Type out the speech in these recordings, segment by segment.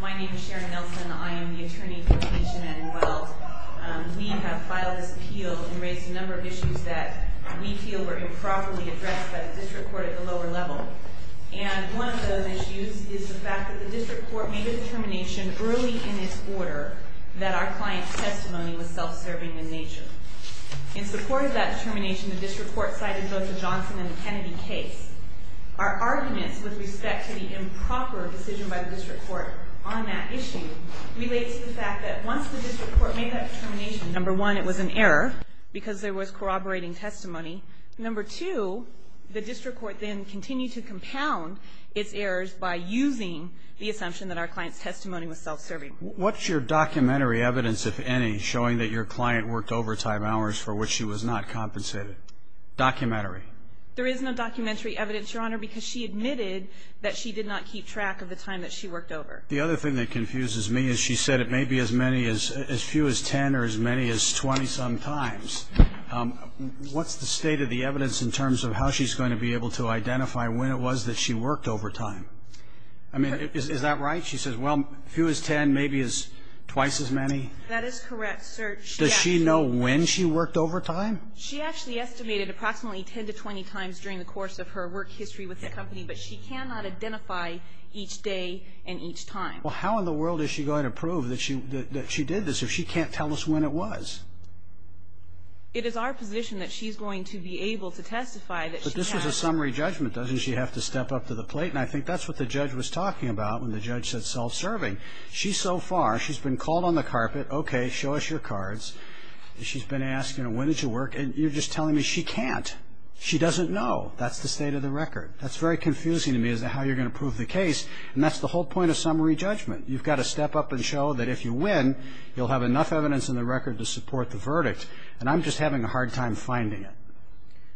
My name is Sharon Nelson. I am the attorney for Tanisha Manuel. We have filed this appeal and raised a number of issues that we feel were improperly addressed by the district court at the lower level. And one of those issues is the fact that the district court made a determination early in its order that our client's testimony was self-serving in nature. In support of that determination, the district court cited both the Johnson and the Kennedy case. Our arguments with respect to the improper decision by the district court on that issue relate to the fact that once the district court made that determination, number one, it was an error because there was corroborating testimony. Number two, the district court then continued to compound its errors by using the assumption that our client's testimony was self-serving. What's your documentary evidence, if any, showing that your client worked overtime hours for which she was not compensated? Documentary. There is no documentary evidence, Your Honor, because she admitted that she did not keep track of the time that she worked over. The other thing that confuses me is she said it may be as few as 10 or as many as 20-some times. What's the state of the evidence in terms of how she's going to be able to identify when it was that she worked overtime? I mean, is that right? She says, well, as few as 10, maybe twice as many? That is correct, sir. Does she know when she worked overtime? She actually estimated approximately 10 to 20 times during the course of her work history with the company, but she cannot identify each day and each time. Well, how in the world is she going to prove that she did this if she can't tell us when it was? It is our position that she's going to be able to testify that she had. But this was a summary judgment. Doesn't she have to step up to the plate? And I think that's what the judge was talking about when the judge said self-serving. She's so far, she's been called on the carpet, okay, show us your cards. She's been asked, you know, when did you work? And you're just telling me she can't. She doesn't know. That's the state of the record. That's very confusing to me as to how you're going to prove the case. And that's the whole point of summary judgment. You've got to step up and show that if you win, you'll have enough evidence in the record to support the verdict. And I'm just having a hard time finding it.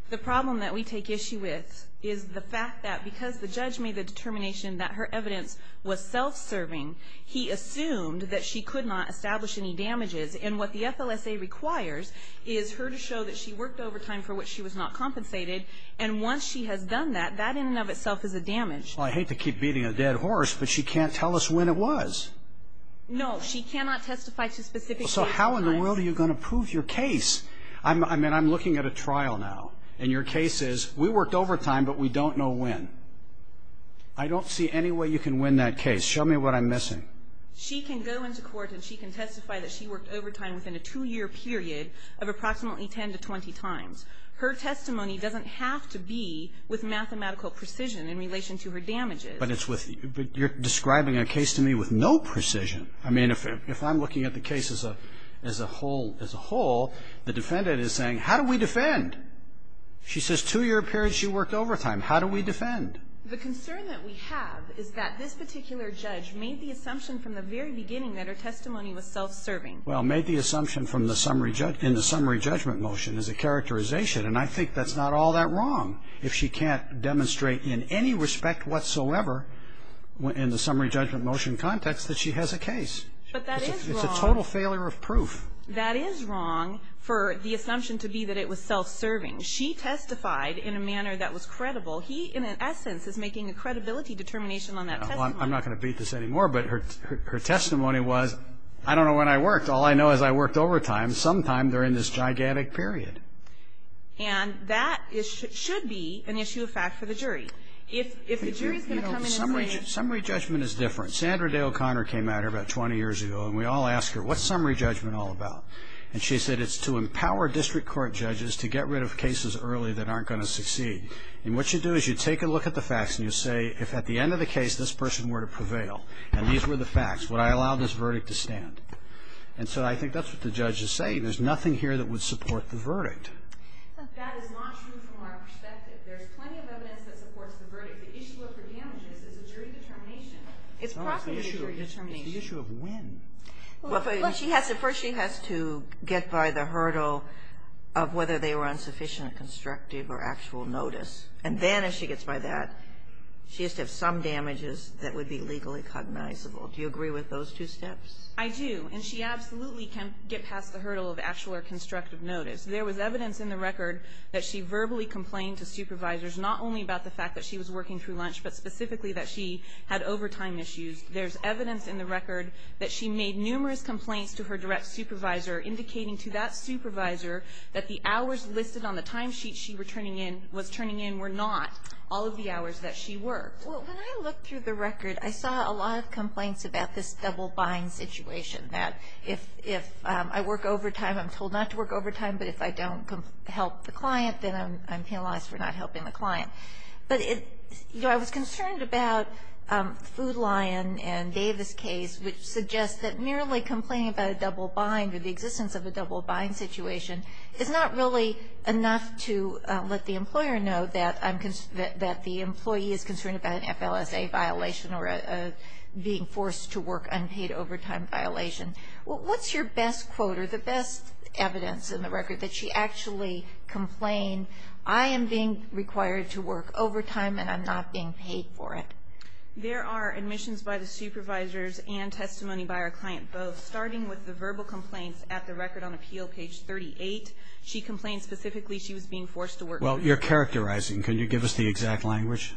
The problem that we take issue with is the fact that because the judge made the determination that her evidence was self-serving, he assumed that she could not establish any damages. And what the FLSA requires is her to show that she worked overtime for which she was not compensated. And once she has done that, that in and of itself is a damage. Well, I hate to keep beating a dead horse, but she can't tell us when it was. No, she cannot testify to specific cases. So how in the world are you going to prove your case? I mean, I'm looking at a trial now, and your case is we worked overtime, but we don't know when. I don't see any way you can win that case. Show me what I'm missing. She can go into court and she can testify that she worked overtime within a two-year period of approximately 10 to 20 times. Her testimony doesn't have to be with mathematical precision in relation to her damages. But it's with you're describing a case to me with no precision. I mean, if I'm looking at the case as a whole, the defendant is saying, how do we defend? She says two-year period, she worked overtime. How do we defend? The concern that we have is that this particular judge made the assumption from the very beginning that her testimony was self-serving. Well, made the assumption in the summary judgment motion as a characterization. And I think that's not all that wrong if she can't demonstrate in any respect whatsoever in the summary judgment motion context that she has a case. But that is wrong. It's a total failure of proof. That is wrong for the assumption to be that it was self-serving. She testified in a manner that was credible. He, in an essence, is making a credibility determination on that testimony. I'm not going to beat this anymore, but her testimony was, I don't know when I worked. All I know is I worked overtime sometime during this gigantic period. And that should be an issue of fact for the jury. If the jury is going to come in and say. Summary judgment is different. Sandra Day O'Connor came at her about 20 years ago, and we all asked her, what's summary judgment all about? And she said it's to empower district court judges to get rid of cases early that aren't going to succeed. And what you do is you take a look at the facts and you say, if at the end of the case this person were to prevail and these were the facts, would I allow this verdict to stand? And so I think that's what the judge is saying. There's nothing here that would support the verdict. That is not true from our perspective. There's plenty of evidence that supports the verdict. The issue of her damages is a jury determination. It's possibly a jury determination. It's the issue of when. First she has to get by the hurdle of whether they were insufficient, constructive, or actual notice. And then if she gets by that, she has to have some damages that would be legally cognizable. Do you agree with those two steps? I do. And she absolutely can get past the hurdle of actual or constructive notice. There was evidence in the record that she verbally complained to supervisors, not only about the fact that she was working through lunch, but specifically that she had overtime issues. There's evidence in the record that she made numerous complaints to her direct supervisor, indicating to that supervisor that the hours listed on the timesheet she was turning in were not all of the hours that she worked. Well, when I looked through the record, I saw a lot of complaints about this double buying situation, that if I work overtime, I'm told not to work overtime, but if I don't help the client, then I'm penalized for not helping the client. But, you know, I was concerned about the Food Lion and Davis case, which suggests that merely complaining about a double buying or the existence of a double buying situation is not really enough to let the employer know that the employee is concerned about an FLSA violation or being forced to work unpaid overtime violation. What's your best quote or the best evidence in the record that she actually complained, I am being required to work overtime and I'm not being paid for it? There are admissions by the supervisors and testimony by our client both. Starting with the verbal complaints at the record on appeal, page 38, she complained specifically she was being forced to work overtime. Well, you're characterizing. Can you give us the exact language?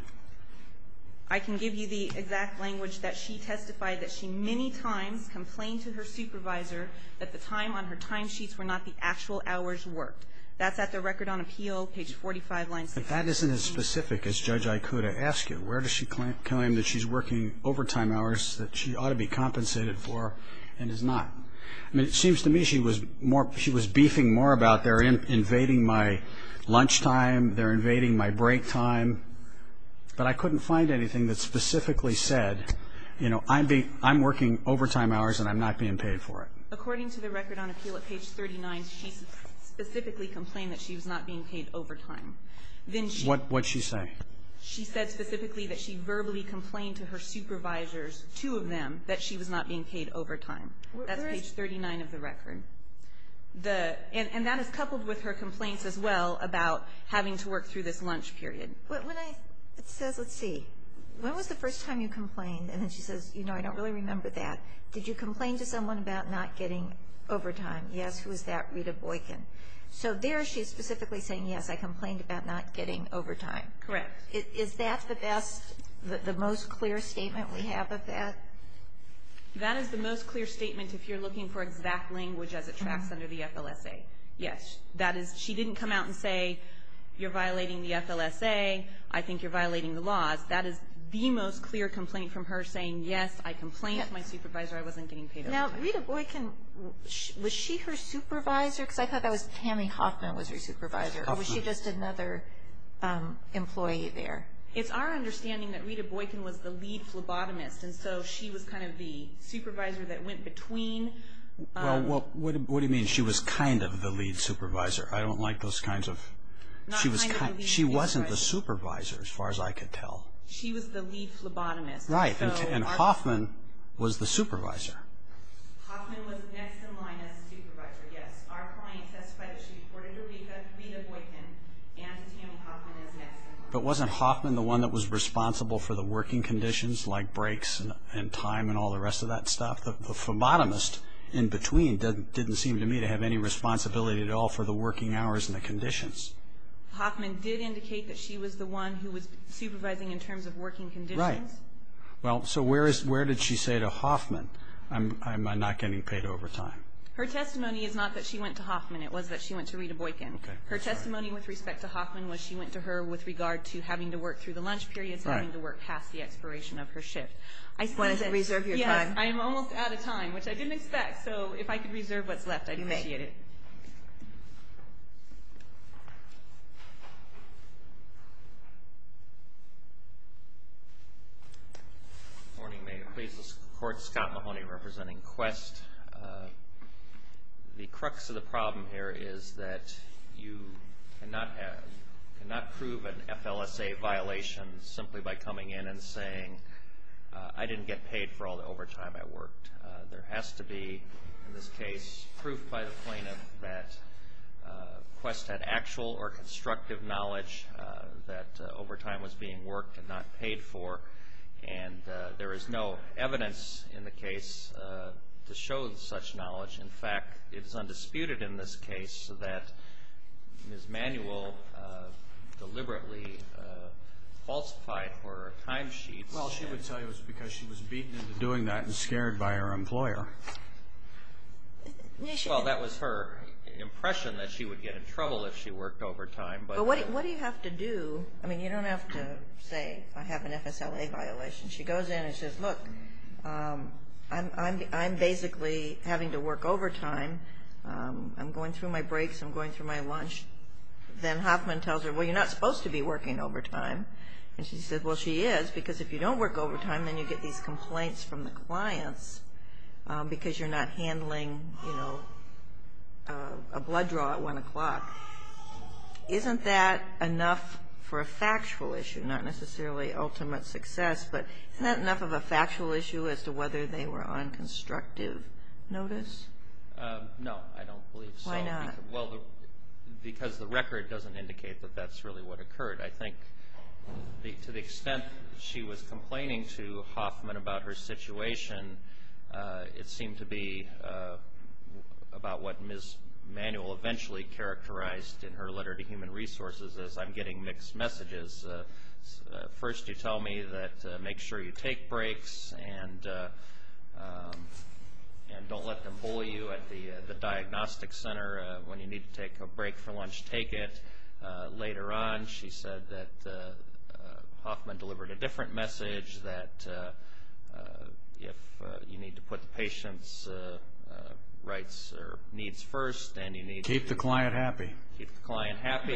I can give you the exact language that she testified that she many times complained to her supervisor that the time on her timesheets were not the actual hours worked. That's at the record on appeal, page 45. If that isn't as specific as Judge Ikuda asked it, where does she claim that she's working overtime hours that she ought to be compensated for and is not? I mean, it seems to me she was beefing more about they're invading my lunchtime, they're invading my break time. But I couldn't find anything that specifically said, you know, I'm working overtime hours and I'm not being paid for it. According to the record on appeal at page 39, she specifically complained that she was not being paid overtime. What did she say? She said specifically that she verbally complained to her supervisors, two of them, that she was not being paid overtime. That's page 39 of the record. And that is coupled with her complaints as well about having to work through this lunch period. When I said, let's see, when was the first time you complained? And then she says, you know, I don't really remember that. Did you complain to someone about not getting overtime? Yes. Who is that? Rita Boykin. So there she is specifically saying, yes, I complained about not getting overtime. Correct. Is that the best, the most clear statement we have of that? That is the most clear statement if you're looking for exact language as it tracks under the FLSA. Yes. She didn't come out and say, you're violating the FLSA, I think you're violating the laws. That is the most clear complaint from her saying, yes, I complained to my supervisor, I wasn't getting paid overtime. Now, Rita Boykin, was she her supervisor? Because I thought that was Tammy Hoffman was her supervisor. Hoffman. Or was she just another employee there? It's our understanding that Rita Boykin was the lead phlebotomist, and so she was kind of the supervisor that went between. Well, what do you mean she was kind of the lead supervisor? I don't like those kinds of – Not kind of the supervisor. Supervisor, as far as I could tell. She was the lead phlebotomist. Right, and Hoffman was the supervisor. Hoffman was next in line as a supervisor, yes. Our client testified that she reported her leave to Rita Boykin and to Tammy Hoffman as next in line. But wasn't Hoffman the one that was responsible for the working conditions, like breaks and time and all the rest of that stuff? The phlebotomist in between didn't seem to me to have any responsibility at all for the working hours and the conditions. Hoffman did indicate that she was the one who was supervising in terms of working conditions. Right. Well, so where did she say to Hoffman, I'm not getting paid overtime? Her testimony is not that she went to Hoffman. It was that she went to Rita Boykin. Okay. Her testimony with respect to Hoffman was she went to her with regard to having to work through the lunch periods and having to work past the expiration of her shift. Do you want to reserve your time? Yes, I'm almost out of time, which I didn't expect. So if I could reserve what's left, I'd appreciate it. You may. Thank you. Good morning. May it please the Court. Scott Mahoney representing Quest. The crux of the problem here is that you cannot prove an FLSA violation simply by coming in and saying, I didn't get paid for all the overtime I worked. There has to be, in this case, proof by the plaintiff that Quest had actual or constructive knowledge that overtime was being worked and not paid for, and there is no evidence in the case to show such knowledge. In fact, it is undisputed in this case that Ms. Manuel deliberately falsified her timesheets. Well, she would tell you it was because she was beaten into doing that and scared by her employer. Well, that was her impression that she would get in trouble if she worked overtime. But what do you have to do? I mean, you don't have to say, I have an FSLA violation. She goes in and says, look, I'm basically having to work overtime. I'm going through my breaks. I'm going through my lunch. Then Hoffman tells her, well, you're not supposed to be working overtime. And she said, well, she is, because if you don't work overtime, then you get these complaints from the clients because you're not handling a blood draw at 1 o'clock. Isn't that enough for a factual issue, not necessarily ultimate success, but isn't that enough of a factual issue as to whether they were on constructive notice? No, I don't believe so. Why not? Well, because the record doesn't indicate that that's really what occurred. I think to the extent she was complaining to Hoffman about her situation, it seemed to be about what Ms. Manuel eventually characterized in her letter to Human Resources as I'm getting mixed messages. First you tell me that make sure you take breaks and don't let them bully you at the diagnostic center. When you need to take a break for lunch, take it. Later on she said that Hoffman delivered a different message, that if you need to put the patient's rights or needs first and you need to keep the client happy.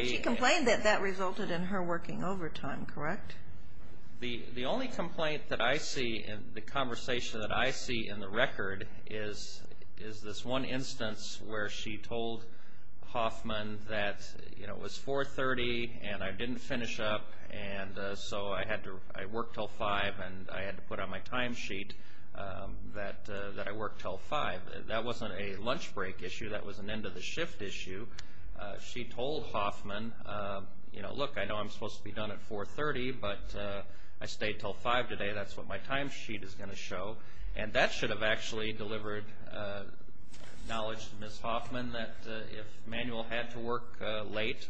She complained that that resulted in her working overtime, correct? The only complaint that I see in the conversation that I see in the record is this one instance where she told Hoffman that it was 4.30 and I didn't finish up and so I worked till 5 and I had to put on my time sheet that I worked till 5. That wasn't a lunch break issue, that was an end of the shift issue. She told Hoffman, look, I know I'm supposed to be done at 4.30, but I stayed till 5 today, that's what my time sheet is going to show. And that should have actually delivered knowledge to Ms. Hoffman that if Manuel had to work late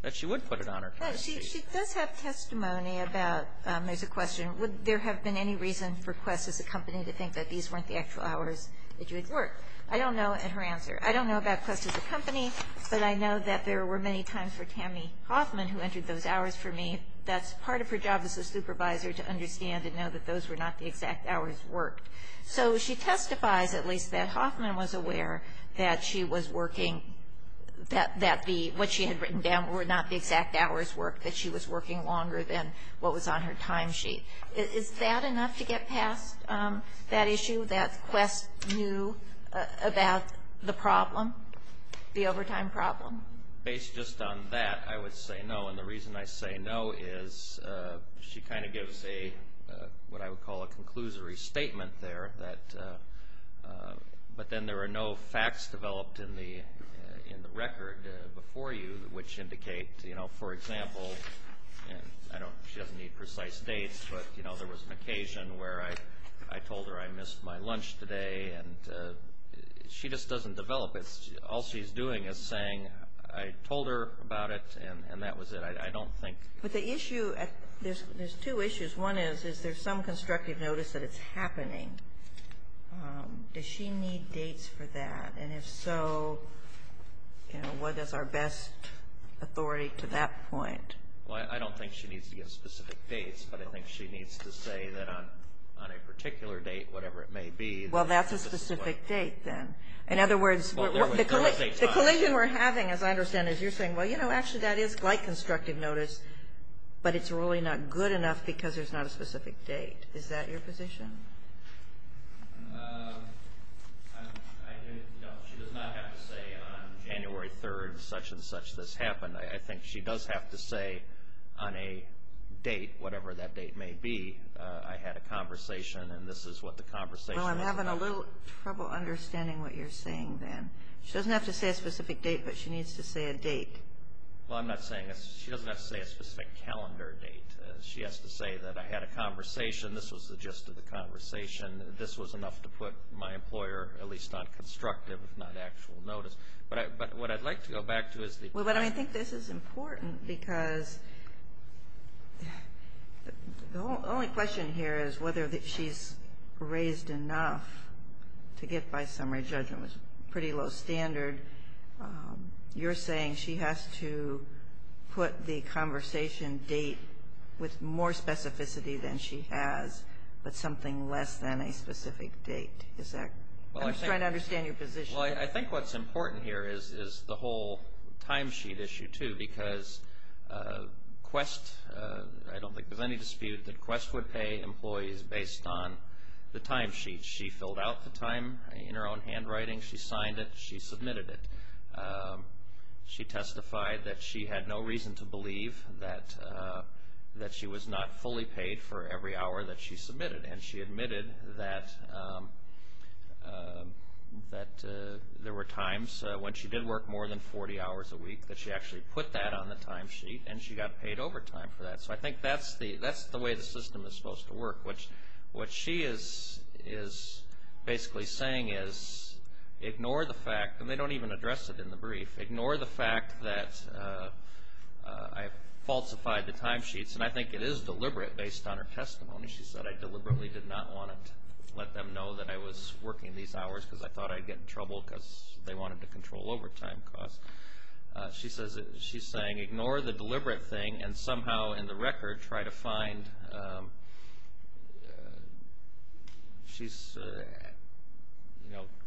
that she would put it on her time sheet. She does have testimony about, there's a question, would there have been any reason for Quest as a company to think that these weren't the actual hours that you would work? I don't know at her answer. I don't know about Quest as a company, but I know that there were many times for Tammy Hoffman who entered those hours for me. That's part of her job as a supervisor, to understand and know that those were not the exact hours worked. So she testifies at least that Hoffman was aware that she was working, that what she had written down were not the exact hours worked, that she was working longer than what was on her time sheet. Is that enough to get past that issue, that Quest knew about the problem, the overtime problem? Based just on that, I would say no. And the reason I say no is she kind of gives a, what I would call a conclusory statement there. But then there are no facts developed in the record before you which indicate, for example, she doesn't need precise dates, but there was an occasion where I told her I missed my lunch today. She just doesn't develop it. All she's doing is saying I told her about it and that was it. But the issue, there's two issues. One is, is there some constructive notice that it's happening? Does she need dates for that? And if so, what is our best authority to that point? Well, I don't think she needs to give specific dates, but I think she needs to say that on a particular date, whatever it may be. Well, that's a specific date then. In other words, the collision we're having, as I understand it, is you're saying, well, you know, actually that is quite constructive notice, but it's really not good enough because there's not a specific date. Is that your position? No, she does not have to say on January 3rd such and such this happened. I think she does have to say on a date, whatever that date may be, I had a conversation and this is what the conversation was about. Well, I'm having a little trouble understanding what you're saying then. She doesn't have to say a specific date, but she needs to say a date. Well, I'm not saying, she doesn't have to say a specific calendar date. She has to say that I had a conversation, this was the gist of the conversation, this was enough to put my employer at least on constructive, not actual notice. But what I'd like to go back to is the question. Well, but I think this is important because the only question here is whether she's raised enough to get by summary judgment was pretty low standard. You're saying she has to put the conversation date with more specificity than she has, but something less than a specific date. I'm just trying to understand your position. Well, I think what's important here is the whole time sheet issue, too, because Quest, I don't think there's any dispute that Quest would pay employees based on the time sheet. She filled out the time in her own handwriting. She signed it. She submitted it. She testified that she had no reason to believe that she was not fully paid for every hour that she submitted, and she admitted that there were times when she did work more than 40 hours a week that she actually put that on the time sheet and she got paid overtime for that. So I think that's the way the system is supposed to work, which what she is basically saying is ignore the fact, and they don't even address it in the brief, ignore the fact that I falsified the time sheets, and I think it is deliberate based on her testimony. She said I deliberately did not want to let them know that I was working these hours because I thought I'd get in trouble because they wanted to control overtime costs. She's saying ignore the deliberate thing and somehow in the record try to find, she's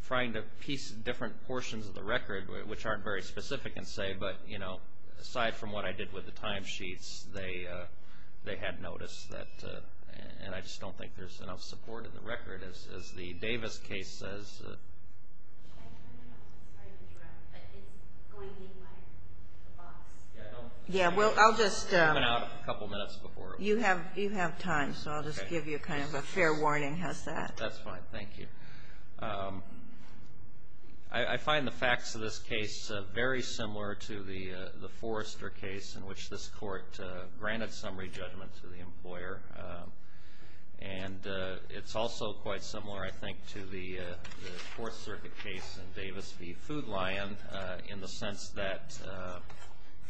trying to piece different portions of the record, which aren't very specific in say, but aside from what I did with the time sheets, they had noticed that, and I just don't think there's enough support in the record as the Davis case says. Should I turn off my address, but it's going to be my box. Yeah, well, I'll just, you have time, so I'll just give you kind of a fair warning. How's that? That's fine, thank you. I find the facts of this case very similar to the Forrester case in which this court granted summary judgment to the employer, and it's also quite similar, I think, to the Fourth Circuit case in Davis v. Food Lion in the sense that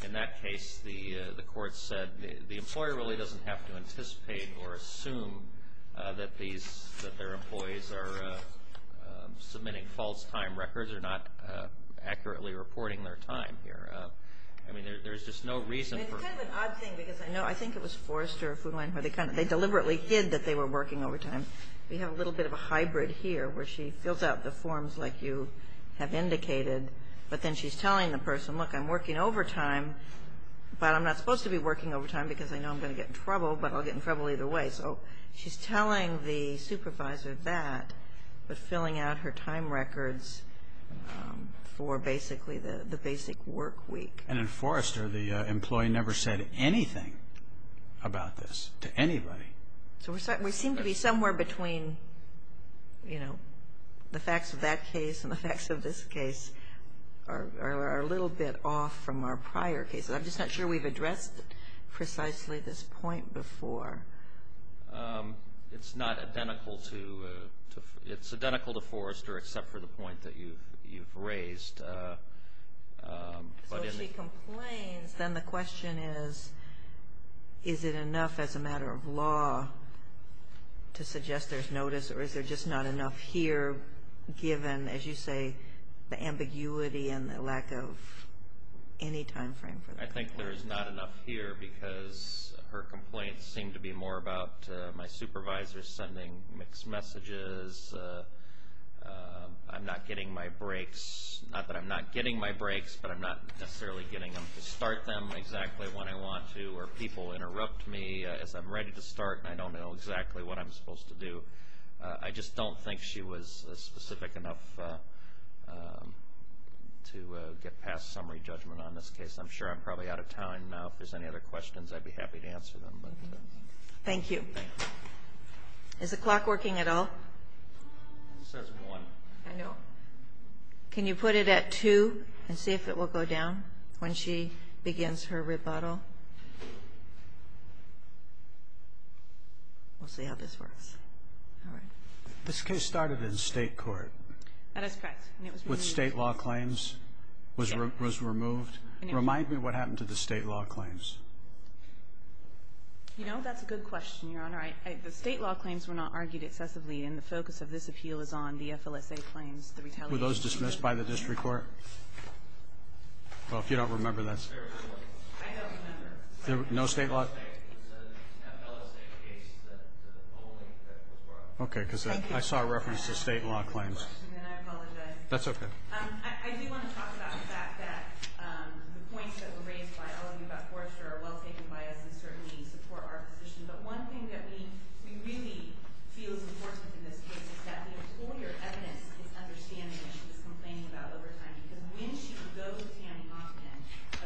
in that case the court said the employer really doesn't have to anticipate or assume that their employees are submitting false time records or not accurately reporting their time here. I mean, there's just no reason for. It's kind of an odd thing because I think it was Forrester or Food Lion where they deliberately hid that they were working overtime. We have a little bit of a hybrid here where she fills out the forms like you have indicated, but then she's telling the person, look, I'm working overtime, but I'm not supposed to be working overtime because I know I'm going to get in trouble, but I'll get in trouble either way. So she's telling the supervisor that, but filling out her time records for basically the basic work week. And in Forrester the employee never said anything about this to anybody. So we seem to be somewhere between, you know, the facts of that case and the facts of this case are a little bit off from our prior cases. I'm just not sure we've addressed precisely this point before. It's not identical to Forrester except for the point that you've raised. So she complains. Then the question is, is it enough as a matter of law to suggest there's notice or is there just not enough here given, as you say, the ambiguity and the lack of any time frame for the complaint? I think there's not enough here because her complaints seem to be more about my supervisor sending mixed messages, I'm not getting my breaks, not that I'm not getting my breaks, but I'm not necessarily getting them to start them exactly when I want to or people interrupt me as I'm ready to start and I don't know exactly what I'm supposed to do. I just don't think she was specific enough to get past summary judgment on this case. I'm sure I'm probably out of time now. If there's any other questions, I'd be happy to answer them. Thank you. Is the clock working at all? It says one. I know. Can you put it at two and see if it will go down when she begins her rebuttal? We'll see how this works. This case started in state court. That is correct. With state law claims was removed. Remind me what happened to the state law claims. You know, that's a good question, Your Honor. The state law claims were not argued excessively, and the focus of this appeal is on the FLSA claims, the retaliation. Were those dismissed by the district court? Well, if you don't remember, that's fine. I don't remember. No state law? The FLSA case, the polling that was brought up. Okay, because I saw a reference to state law claims. I apologize. That's okay. I do want to talk about the fact that the points that were raised by all of you about Forrester are well taken by us and certainly support our position. But one thing that we really feel is important in this case is that the employer evidenced its understanding that she was complaining about overtime, because when she could go to Tammy Hoffman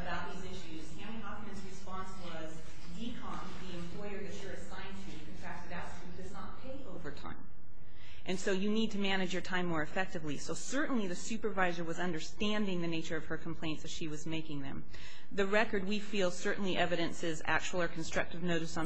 about these issues, Tammy Hoffman's response was, DECOMP, the employer that you're assigned to, contracted out, does not pay overtime. And so you need to manage your time more effectively. So certainly the supervisor was understanding the nature of her complaints as she was making them. The record, we feel, certainly evidences actual or constructive notice on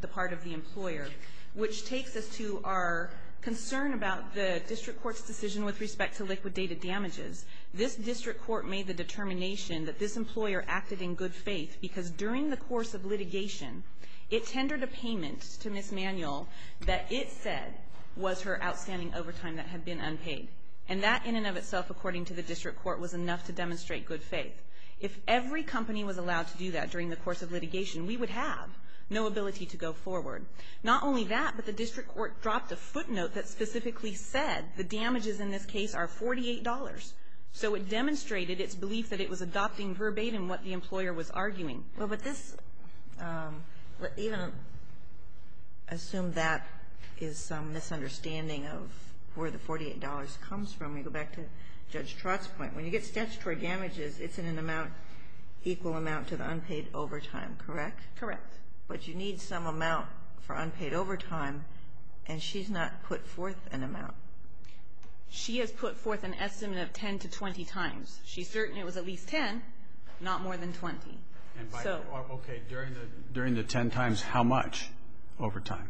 the part of the employer, which takes us to our concern about the district court's decision with respect to liquidated damages. This district court made the determination that this employer acted in good faith because during the course of litigation, it tendered a payment to Ms. Manuel that it said was her outstanding overtime that had been unpaid. And that in and of itself, according to the district court, was enough to demonstrate good faith. If every company was allowed to do that during the course of litigation, we would have no ability to go forward. Not only that, but the district court dropped a footnote that specifically said the damages in this case are $48. So it demonstrated its belief that it was adopting verbatim what the employer was arguing. Well, but this, even assume that is some misunderstanding of where the $48 comes from. We go back to Judge Trott's point. When you get statutory damages, it's in an amount, equal amount to the unpaid overtime, correct? Correct. But you need some amount for unpaid overtime, and she's not put forth an amount. She has put forth an estimate of 10 to 20 times. She's certain it was at least 10, not more than 20. Okay. During the 10 times, how much overtime?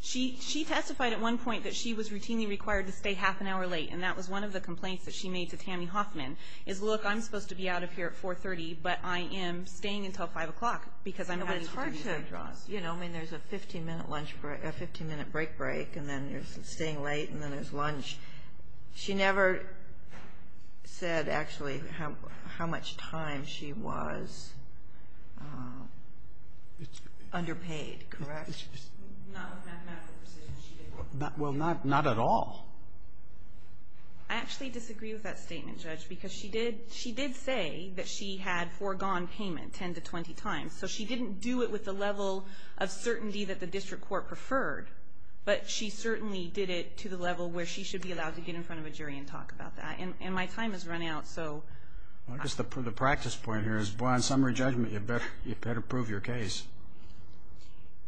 She testified at one point that she was routinely required to stay half an hour late, and that was one of the complaints that she made to Tammy Hoffman, is, look, I'm supposed to be out of here at 430, but I am staying until 5 o'clock because I'm waiting for these withdrawals. It's hard to, you know, I mean, there's a 15-minute lunch break, a 15-minute break break, and then there's staying late, and then there's lunch. She never said, actually, how much time she was underpaid, correct? Not with mathematical precision, she didn't. Well, not at all. I actually disagree with that statement, Judge, because she did say that she had foregone payment 10 to 20 times, so she didn't do it with the level of certainty that the district court preferred, but she certainly did it to the level where she should be allowed to get in front of a jury and talk about that, and my time has run out, so. I guess the practice point here is, boy, on summary judgment, you better prove your case.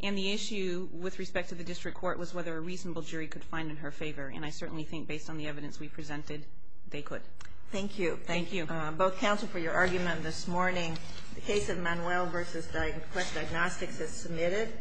And the issue with respect to the district court was whether a reasonable jury could find in her favor, and I certainly think, based on the evidence we presented, they could. Thank you. Thank you. Both counsel, for your argument this morning, the case of Manuel v. Quest Diagnostics is submitted.